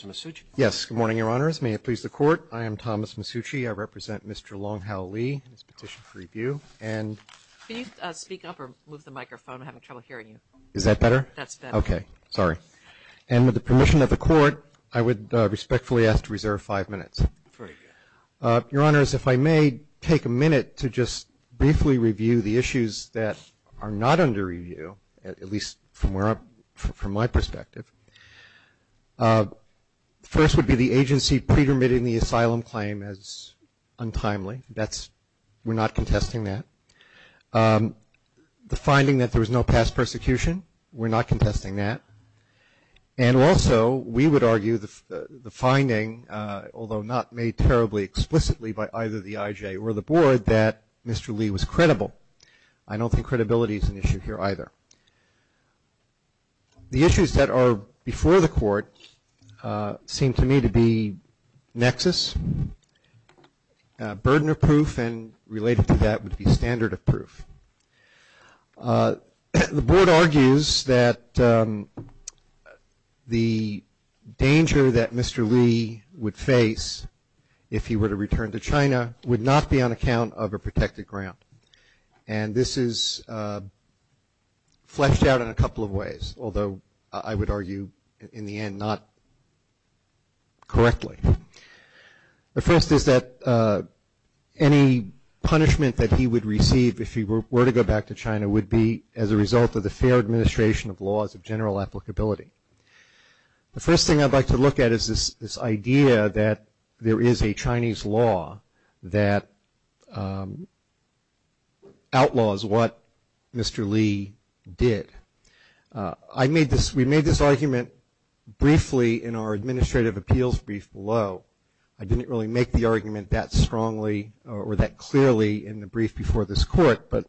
Mr. Masucci? Yes. Good morning, Your Honors. May it please the Court? I am Thomas Masucci. I represent Mr. Longhao Lee. This is a petition for review. Can you speak up or move the microphone? I'm having trouble hearing you. Is that better? That's better. Okay. Sorry. And with the permission of the Court, I would respectfully ask to reserve five minutes. Your Honors, if I may take a minute to just briefly review the issues that are not under review, at least from my perspective. First would be the agency pre-permitting the asylum claim as untimely. We're not contesting that. The finding that there was no past persecution, we're not contesting that. And also, we would argue the finding, although not made terribly explicitly by either the IJ or the Board, that Mr. Lee was credible. I don't think credibility is an issue here either. The issues that are before the Court seem to me to be nexus, burden of proof, and related to that would be standard of proof. The Board argues that the danger that Mr. Lee would face if he were to return to China would not be on account of a protected ground, and this is fleshed out in a couple of ways, although I would argue in the end not correctly. The first is that any punishment that he would receive if he were to go back to China would be as a result of the fair administration of laws of general applicability. The first thing I'd like to look at is this idea that there is a Chinese law that outlaws what Mr. Lee did. We made this argument briefly in our administrative appeals brief below. I didn't really make the argument that strongly or that clearly in the brief before this Court, but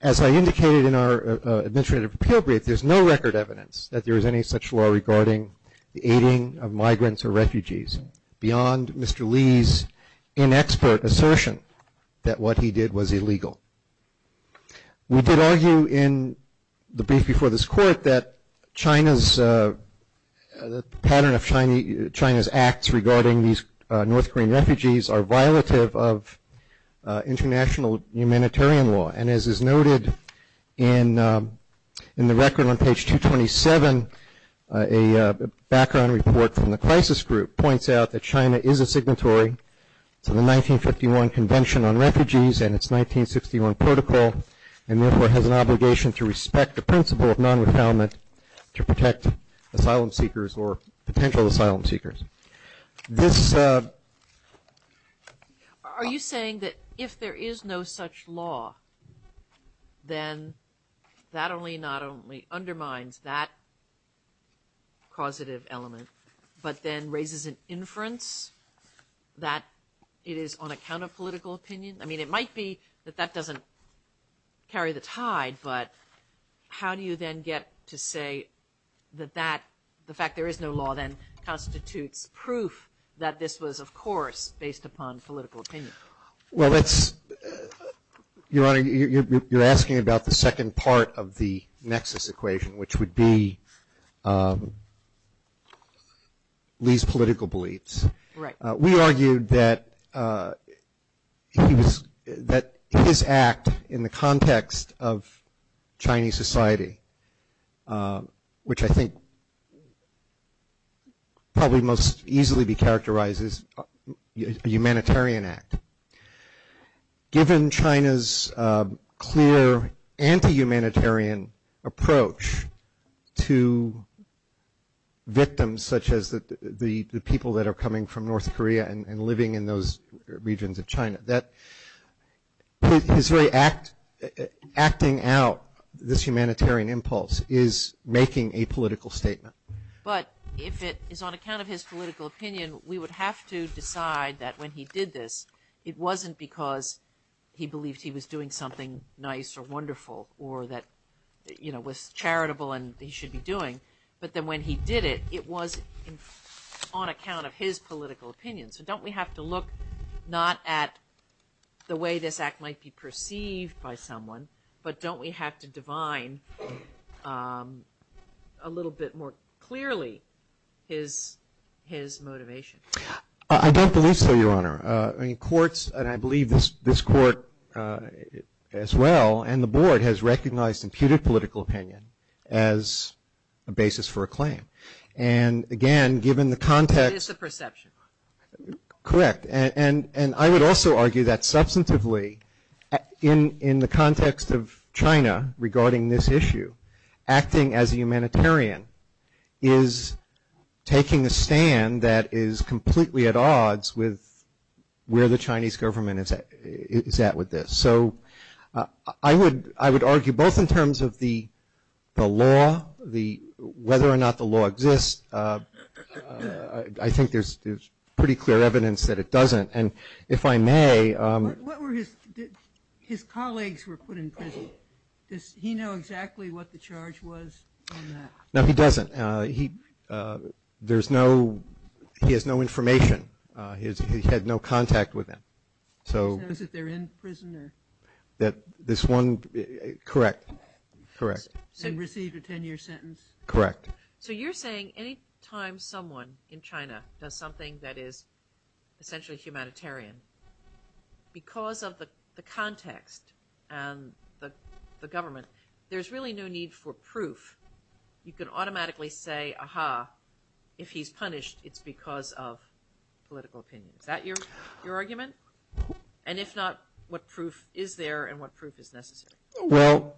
as I indicated in our administrative appeal brief, there's no record evidence that there is any such law regarding the aiding of migrants or refugees beyond Mr. Lee's inexpert assertion that what he did was illegal. We did argue in the brief before this Court that China's pattern of China's acts regarding these North Korean refugees are violative of international humanitarian law, and as is noted in the record on page 227, a background report from the crisis group points out that China is a signatory to the 1951 Convention on Refugees and its 1961 Protocol, and therefore has an obligation to respect the principle of non-refoulement to protect asylum seekers or potential asylum seekers. This... Are you saying that if there is no such law, then that only not only undermines that causative element, but then raises an inference that it is on account of political opinion? I mean, it might be that that doesn't carry the tide, but how do you then get to say that that, the fact there is no law then constitutes proof that this was, of course, based upon political opinion? Well, that's... Your Honor, you're asking about the second part of the nexus equation, which would be Lee's political beliefs. Right. We argued that his act in the context of Chinese society, which I think probably most easily be characterized as a humanitarian act, given China's clear anti-humanitarian approach to victims such as the people that are coming from North Korea and living in those regions of China, that his very acting out this humanitarian impulse is making a political statement. But if it is on account of his political opinion, we would have to decide that when he did this, it wasn't because he believed he was doing something nice or wonderful or that, you know, it was charitable and he should be doing. But then when he did it, it was on account of his political opinion. So don't we have to look not at the way this act might be perceived by someone, but don't we have to divine a little bit more clearly his motivation? I don't believe so, Your Honor. I mean, courts, and I believe this court as well, and the board, has recognized imputed political opinion as a basis for a claim. And, again, given the context. It is a perception. Correct. And I would also argue that substantively in the context of China regarding this issue, acting as a humanitarian is taking a stand that is completely at odds with where the Chinese government is at with this. So I would argue both in terms of the law, whether or not the law exists. I think there's pretty clear evidence that it doesn't. And if I may. His colleagues were put in prison. Does he know exactly what the charge was on that? No, he doesn't. He has no information. He had no contact with them. So is it they're in prison? This one, correct, correct. And received a 10-year sentence. Correct. So you're saying any time someone in China does something that is essentially humanitarian, because of the context and the government, there's really no need for proof. You can automatically say, aha, if he's punished, it's because of political opinion. Is that your argument? And if not, what proof is there and what proof is necessary? Well,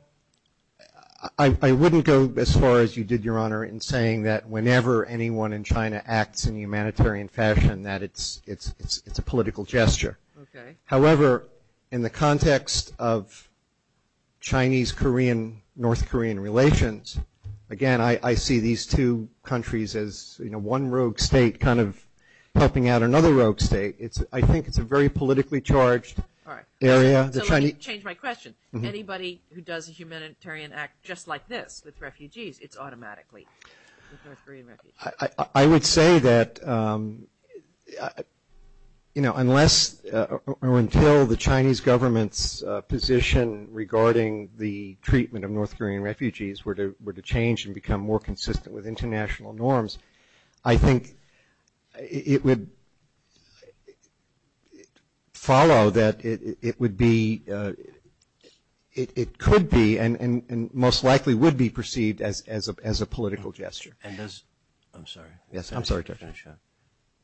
I wouldn't go as far as you did, Your Honor, in saying that whenever anyone in China acts in a humanitarian fashion, that it's a political gesture. However, in the context of Chinese-Korean, North Korean relations, again, I see these two countries as, you know, one rogue state kind of helping out another rogue state. I think it's a very politically charged area. All right. So let me change my question. Anybody who does a humanitarian act just like this with refugees, it's automatically a North Korean refugee. I would say that, you know, unless or until the Chinese government's position regarding the treatment of North Korean refugees were to change and become more consistent with international norms, I think it would follow that it would be – it could be and most likely would be perceived as a political gesture. And does – I'm sorry. Yes, I'm sorry, Judge.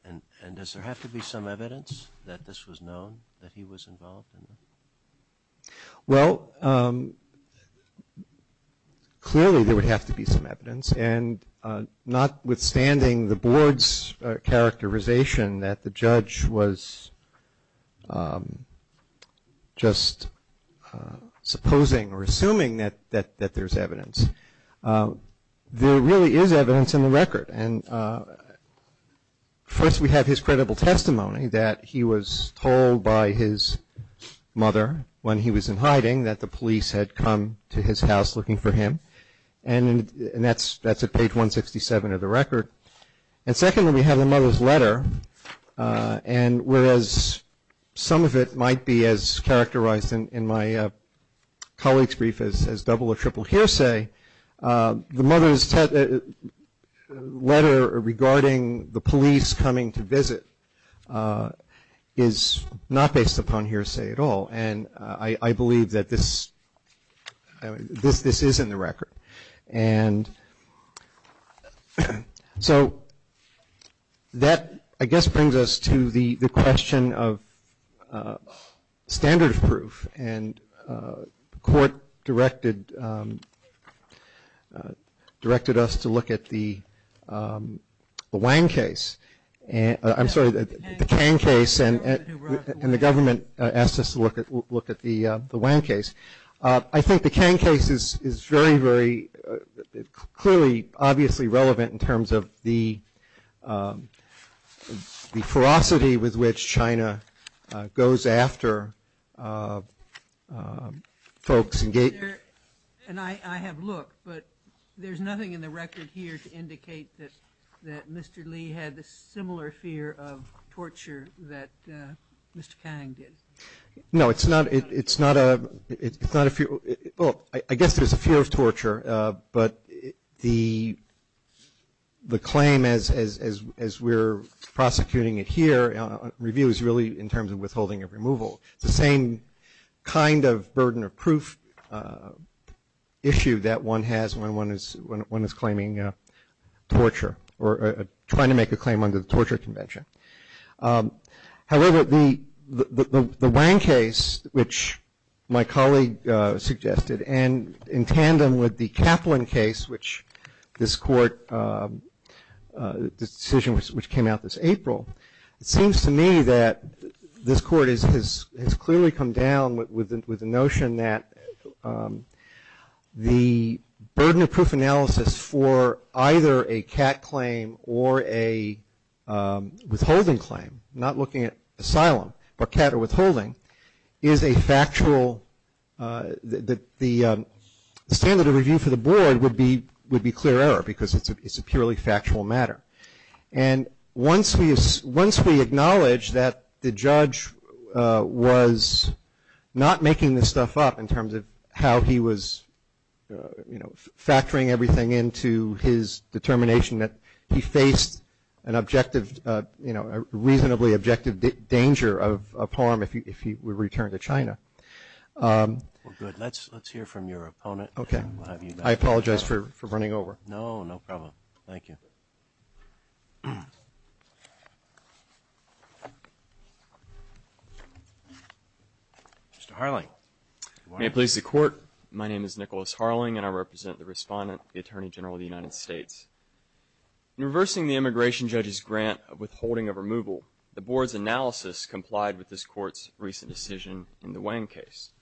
And does there have to be some evidence that this was known, that he was involved in this? Well, clearly there would have to be some evidence, and notwithstanding the board's characterization that the judge was just supposing or assuming that there's evidence, there really is evidence in the record. And first we have his credible testimony that he was told by his mother when he was in hiding that the police had come to his house looking for him, and that's at page 167 of the record. And secondly, we have the mother's letter, and whereas some of it might be as characterized in my colleague's brief as double or triple hearsay, the mother's letter regarding the police coming to visit is not based upon hearsay at all, and I believe that this is in the record. And so that, I guess, brings us to the question of standard of proof, and the court directed us to look at the Wang case. I'm sorry, the Kang case, and the government asked us to look at the Wang case. I think the Kang case is very, very clearly, obviously relevant in terms of the ferocity with which China goes after folks. And I have looked, but there's nothing in the record here to indicate that Mr. Lee had a similar fear of torture that Mr. Kang did. No, it's not a, well, I guess there's a fear of torture, but the claim as we're prosecuting it here, review is really in terms of withholding of removal. It's the same kind of burden of proof issue that one has when one is claiming torture or trying to make a claim under the torture convention. However, the Wang case, which my colleague suggested, and in tandem with the Kaplan case, which this court, this decision which came out this April, it seems to me that this court has clearly come down with the notion that the burden of proof analysis for either a cat claim or a withholding claim, not looking at asylum, but cat or withholding, is a factual, the standard of review for the board would be clear error because it's a purely factual matter. And once we acknowledge that the judge was not making this stuff up in terms of how he was, you know, factoring everything into his determination that he faced an objective, you know, a reasonably objective danger of harm if he were returned to China. Well, good. Let's hear from your opponent. Okay. I apologize for running over. No, no problem. Thank you. Mr. Harling. May it please the Court. My name is Nicholas Harling, and I represent the respondent, the Attorney General of the United States. In reversing the immigration judge's grant of withholding of removal, the board's analysis complied with this court's recent decision in the Wang case.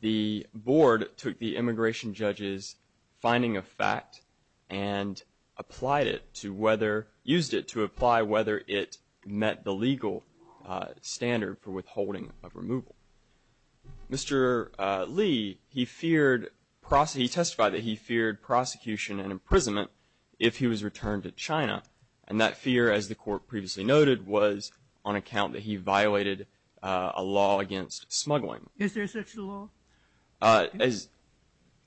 The board took the immigration judge's finding of fact and applied it to whether, used it to apply whether it met the legal standard for withholding of removal. Mr. Lee, he feared, he testified that he feared prosecution and imprisonment if he was returned to China. And that fear, as the court previously noted, was on account that he violated a law against smuggling. Is there such a law? As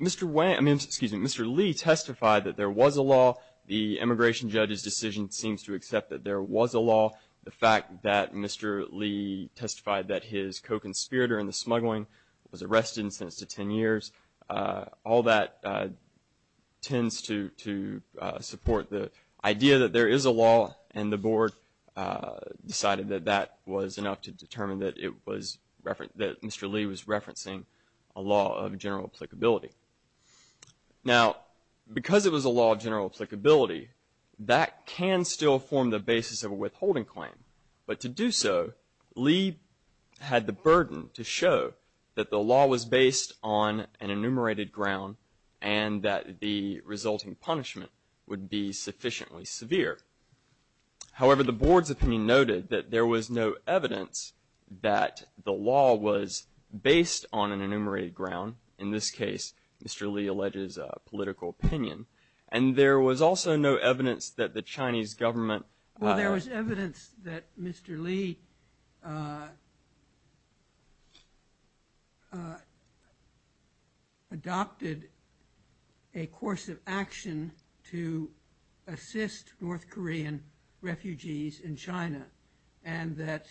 Mr. Wang, I mean, excuse me, Mr. Lee testified that there was a law. The immigration judge's decision seems to accept that there was a law. The fact that Mr. Lee testified that his co-conspirator in the smuggling was arrested and sentenced to 10 years, all that tends to support the idea that there is a law, and the board decided that that was enough to determine that Mr. Lee was referencing a law of general applicability. Now, because it was a law of general applicability, that can still form the basis of a withholding claim. But to do so, Lee had the burden to show that the law was based on an enumerated ground and that the resulting punishment would be sufficiently severe. However, the board's opinion noted that there was no evidence that the law was based on an enumerated ground. In this case, Mr. Lee alleges a political opinion. And there was also no evidence that the Chinese government- Well, there was evidence that Mr. Lee adopted a course of action to assist North Korean refugees in China and that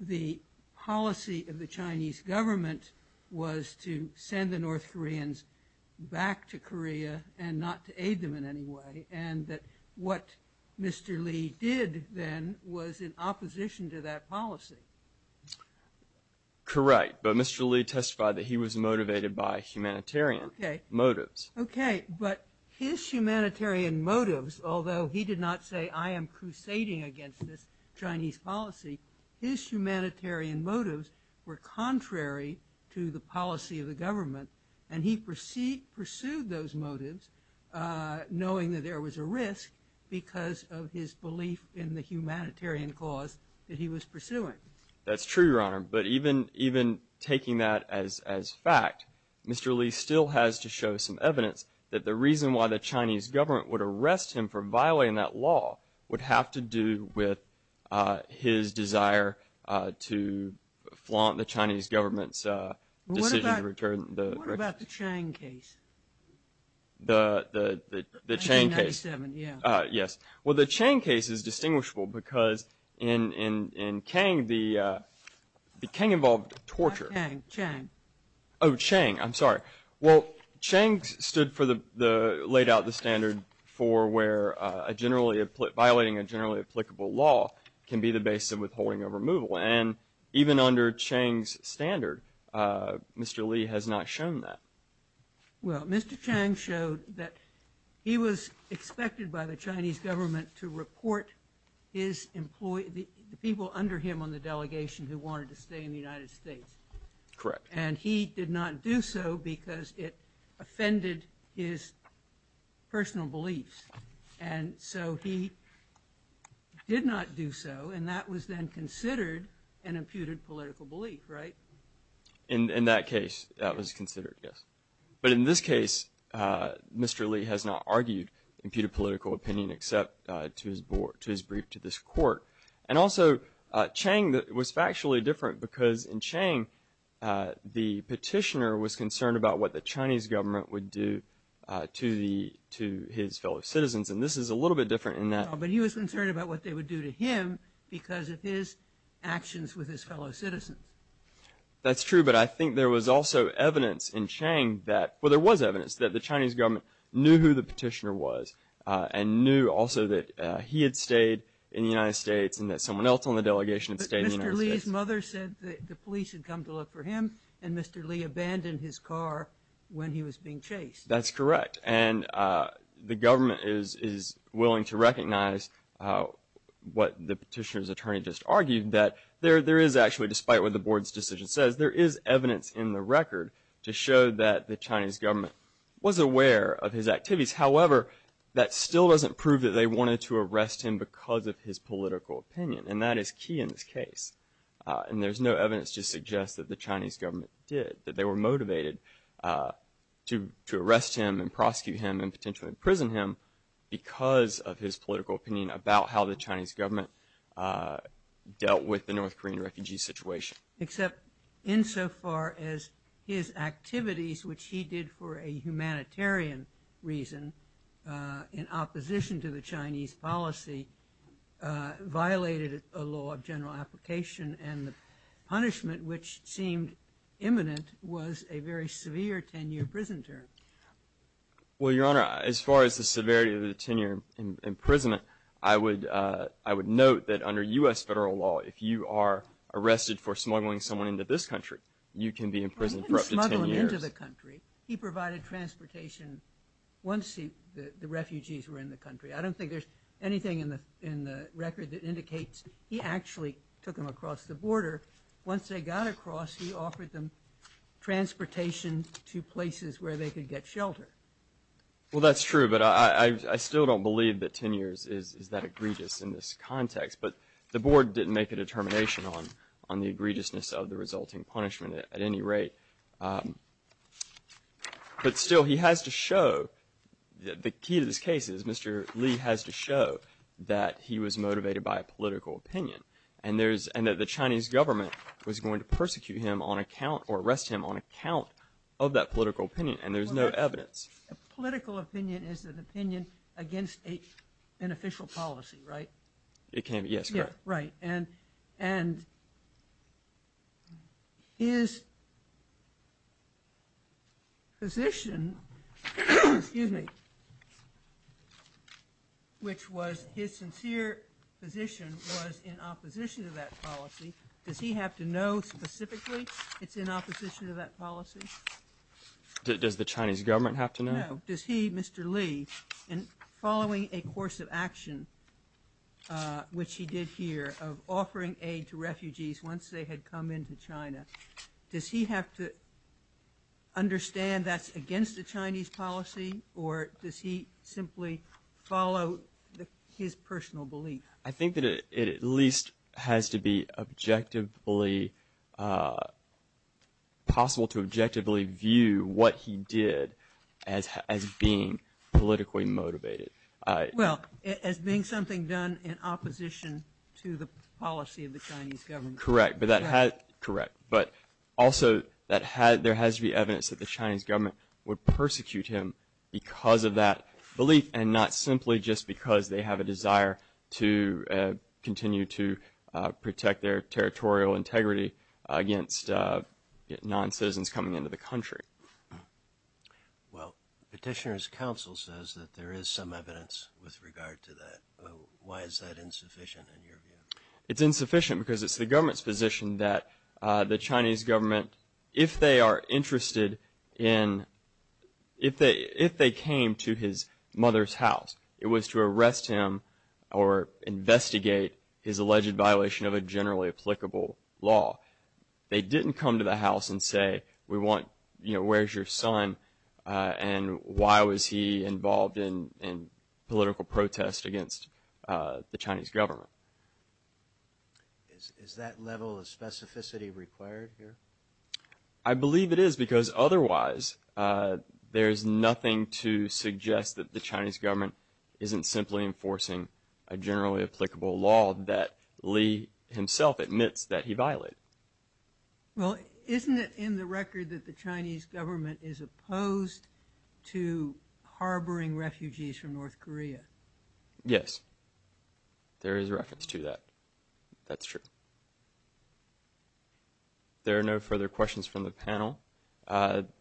the policy of the Chinese government was to send the North Koreans back to Korea and not to aid them in any way, and that what Mr. Lee did then was in opposition to that policy. Correct, but Mr. Lee testified that he was motivated by humanitarian motives. Okay, but his humanitarian motives, although he did not say, I am crusading against this Chinese policy, his humanitarian motives were contrary to the policy of the government, and he pursued those motives knowing that there was a risk because of his belief in the humanitarian cause that he was pursuing. That's true, Your Honor, but even taking that as fact, Mr. Lee still has to show some evidence that the reason why the Chinese government would arrest him for violating that law would have to do with his desire to flaunt the Chinese government's decision to return- What about the Chang case? The Chang case. 1997, yes. Well, the Chang case is distinguishable because in Kang, the Kang involved torture. Not Kang, Chang. Oh, Chang, I'm sorry. Well, Chang laid out the standard for where violating a generally applicable law can be the basis of withholding or removal, and even under Chang's standard, Mr. Lee has not shown that. Well, Mr. Chang showed that he was expected by the Chinese government to report his employee, the people under him on the delegation who wanted to stay in the United States. Correct. And he did not do so because it offended his personal beliefs, and so he did not do so, and that was then considered an imputed political belief, right? In that case, that was considered, yes. But in this case, Mr. Lee has not argued imputed political opinion except to his brief to this court. And also, Chang was factually different because in Chang, the petitioner was concerned about what the Chinese government would do to his fellow citizens, and this is a little bit different in that- But he was concerned about what they would do to him because of his actions with his fellow citizens. That's true, but I think there was also evidence in Chang that- well, there was evidence that the Chinese government knew who the petitioner was and knew also that he had stayed in the United States and that someone else on the delegation had stayed in the United States. But Mr. Lee's mother said that the police had come to look for him, and Mr. Lee abandoned his car when he was being chased. That's correct. And the government is willing to recognize what the petitioner's attorney just argued, that there is actually, despite what the board's decision says, there is evidence in the record to show that the Chinese government was aware of his activities. However, that still doesn't prove that they wanted to arrest him because of his political opinion, and that is key in this case. And there's no evidence to suggest that the Chinese government did, that they were motivated to arrest him and prosecute him and potentially imprison him because of his political opinion about how the Chinese government dealt with the North Korean refugee situation. Except insofar as his activities, which he did for a humanitarian reason in opposition to the Chinese policy, violated a law of general application, and the punishment, which seemed imminent, was a very severe 10-year prison term. Well, Your Honor, as far as the severity of the 10-year imprisonment, I would note that under U.S. federal law, if you are arrested for smuggling someone into this country, you can be imprisoned for up to 10 years. He didn't smuggle him into the country. He provided transportation once the refugees were in the country. I don't think there's anything in the record that indicates he actually took them across the border. Once they got across, he offered them transportation to places where they could get shelter. Well, that's true, but I still don't believe that 10 years is that egregious in this context. But the board didn't make a determination on the egregiousness of the resulting punishment at any rate. But still, he has to show, the key to this case is Mr. Li has to show that he was motivated by a political opinion and that the Chinese government was going to persecute him on account or arrest him on account of that political opinion, and there's no evidence. A political opinion is an opinion against an official policy, right? It can be, yes, correct. Right, and his position, excuse me, which was his sincere position was in opposition to that policy. Does he have to know specifically it's in opposition to that policy? Does the Chinese government have to know? Does he, Mr. Li, in following a course of action, which he did here, of offering aid to refugees once they had come into China, does he have to understand that's against the Chinese policy or does he simply follow his personal belief? I think that it at least has to be objectively, possible to objectively view what he did as being politically motivated. Well, as being something done in opposition to the policy of the Chinese government. Correct, but that has, correct. But also, there has to be evidence that the Chinese government would persecute him because of that belief and not simply just because they have a desire to continue to protect their territorial integrity against non-citizens coming into the country. Well, petitioner's counsel says that there is some evidence with regard to that. Why is that insufficient in your view? It's insufficient because it's the government's position that the Chinese government, if they are interested in, if they came to his mother's house, it was to arrest him or investigate his alleged violation of a generally applicable law. They didn't come to the house and say, we want, you know, where's your son and why was he involved in political protest against the Chinese government. Is that level of specificity required here? I believe it is because otherwise there's nothing to suggest that the Chinese government isn't simply enforcing a generally applicable law that Lee himself admits that he violated. Well, isn't it in the record that the Chinese government is opposed to harboring refugees from North Korea? Yes, there is reference to that. That's true. There are no further questions from the panel.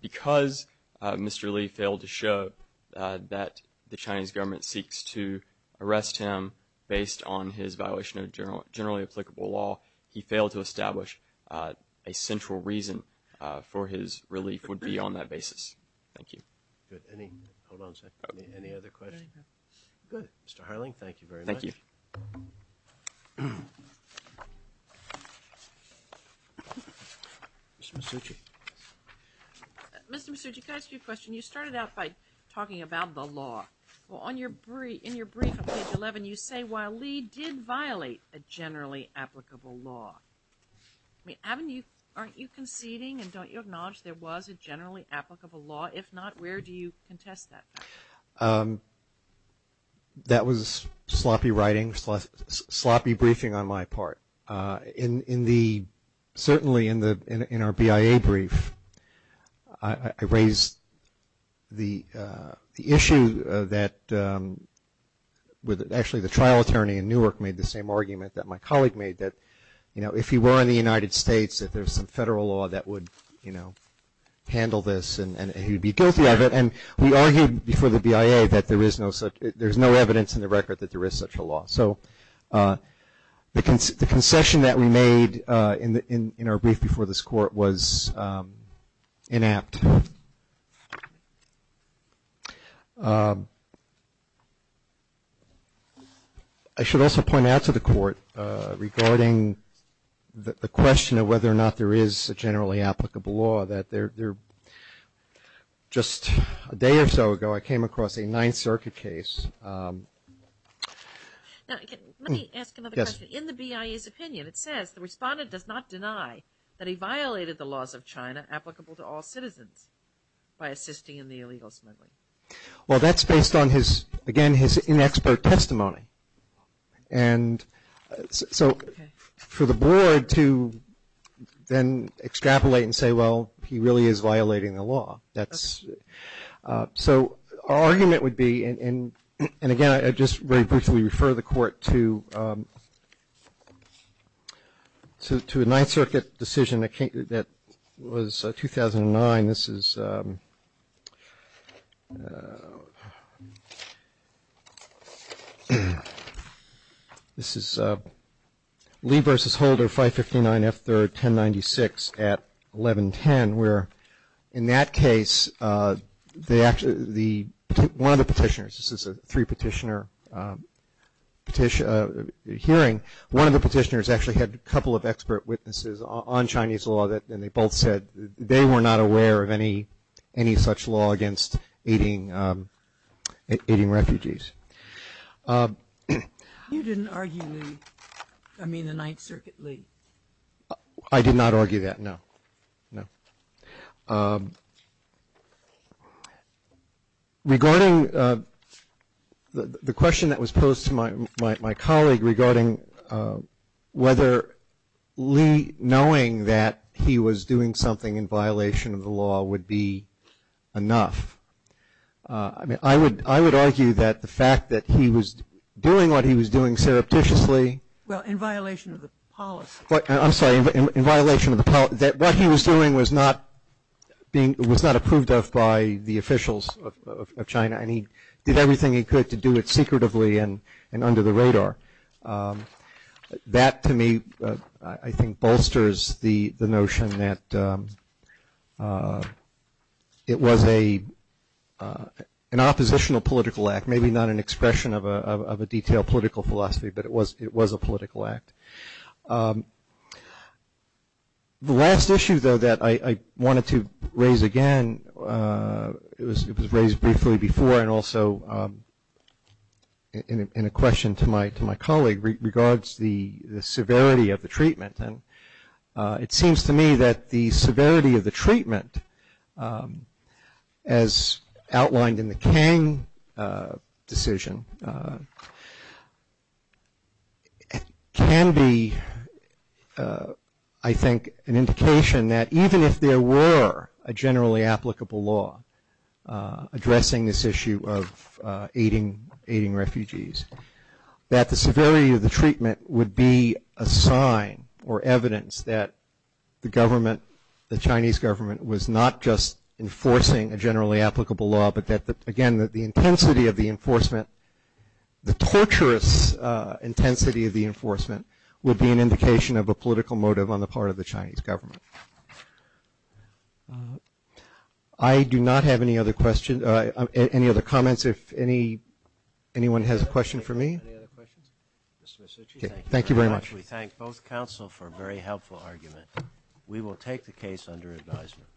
Because Mr. Lee failed to show that the Chinese government seeks to arrest him based on his violation of generally applicable law, he failed to establish a central reason for his relief would be on that basis. Thank you. Good. Hold on a second. Any other questions? Good. Mr. Harling, thank you very much. Thank you. Ms. Mitsuchi. Mr. Mitsuchi, can I ask you a question? You started out by talking about the law. Well, in your brief on page 11, you say while Lee did violate a generally applicable law, haven't you, aren't you conceding and don't you acknowledge there was a generally applicable law? If not, where do you contest that? That was sloppy writing, sloppy briefing on my part. Certainly in our BIA brief, I raised the issue that actually the trial attorney in Newark made the same argument that my colleague made that, you know, if he were in the United States, that there's some federal law that would, you know, handle this and he would be guilty of it. And we argued before the BIA that there is no evidence in the record that there is such a law. So the concession that we made in our brief before this court was inapt. Thank you. I should also point out to the court regarding the question of whether or not there is a generally applicable law, that just a day or so ago I came across a Ninth Circuit case. Now, let me ask another question. In the BIA's opinion, it says the respondent does not deny that he violated the laws of China that are applicable to all citizens by assisting in the illegal smuggling. Well, that's based on his, again, his inexpert testimony. And so for the board to then extrapolate and say, well, he really is violating the law. So our argument would be, and again, I just very briefly refer the court to a Ninth Circuit decision that was 2009. This is Lee v. Holder, 559 F. 3rd, 1096 at 1110, where in that case, one of the petitioners, this is a three-petitioner hearing, and one of the petitioners actually had a couple of expert witnesses on Chinese law, and they both said they were not aware of any such law against aiding refugees. You didn't argue the Ninth Circuit, Lee? I did not argue that, no. Regarding the question that was posed to my colleague regarding whether Lee knowing that he was doing something in violation of the law would be enough. I mean, I would argue that the fact that he was doing what he was doing surreptitiously. Well, in violation of the policy. I'm sorry. In violation of the policy, that what he was doing was not approved of by the officials of China, and he did everything he could to do it secretively and under the radar. That, to me, I think bolsters the notion that it was an oppositional political act, The last issue, though, that I wanted to raise again, it was raised briefly before, and also in a question to my colleague, regards the severity of the treatment. It seems to me that the severity of the treatment, as outlined in the Kang decision, can be, I think, an indication that even if there were a generally applicable law addressing this issue of aiding refugees, that the severity of the treatment would be a sign or evidence that the government, the Chinese government, was not just enforcing a generally applicable law, but that, again, the intensity of the enforcement, the torturous intensity of the enforcement, would be an indication of a political motive on the part of the Chinese government. I do not have any other questions, any other comments. If anyone has a question for me. Thank you very much. We thank both counsel for a very helpful argument. We will take the case under advisement.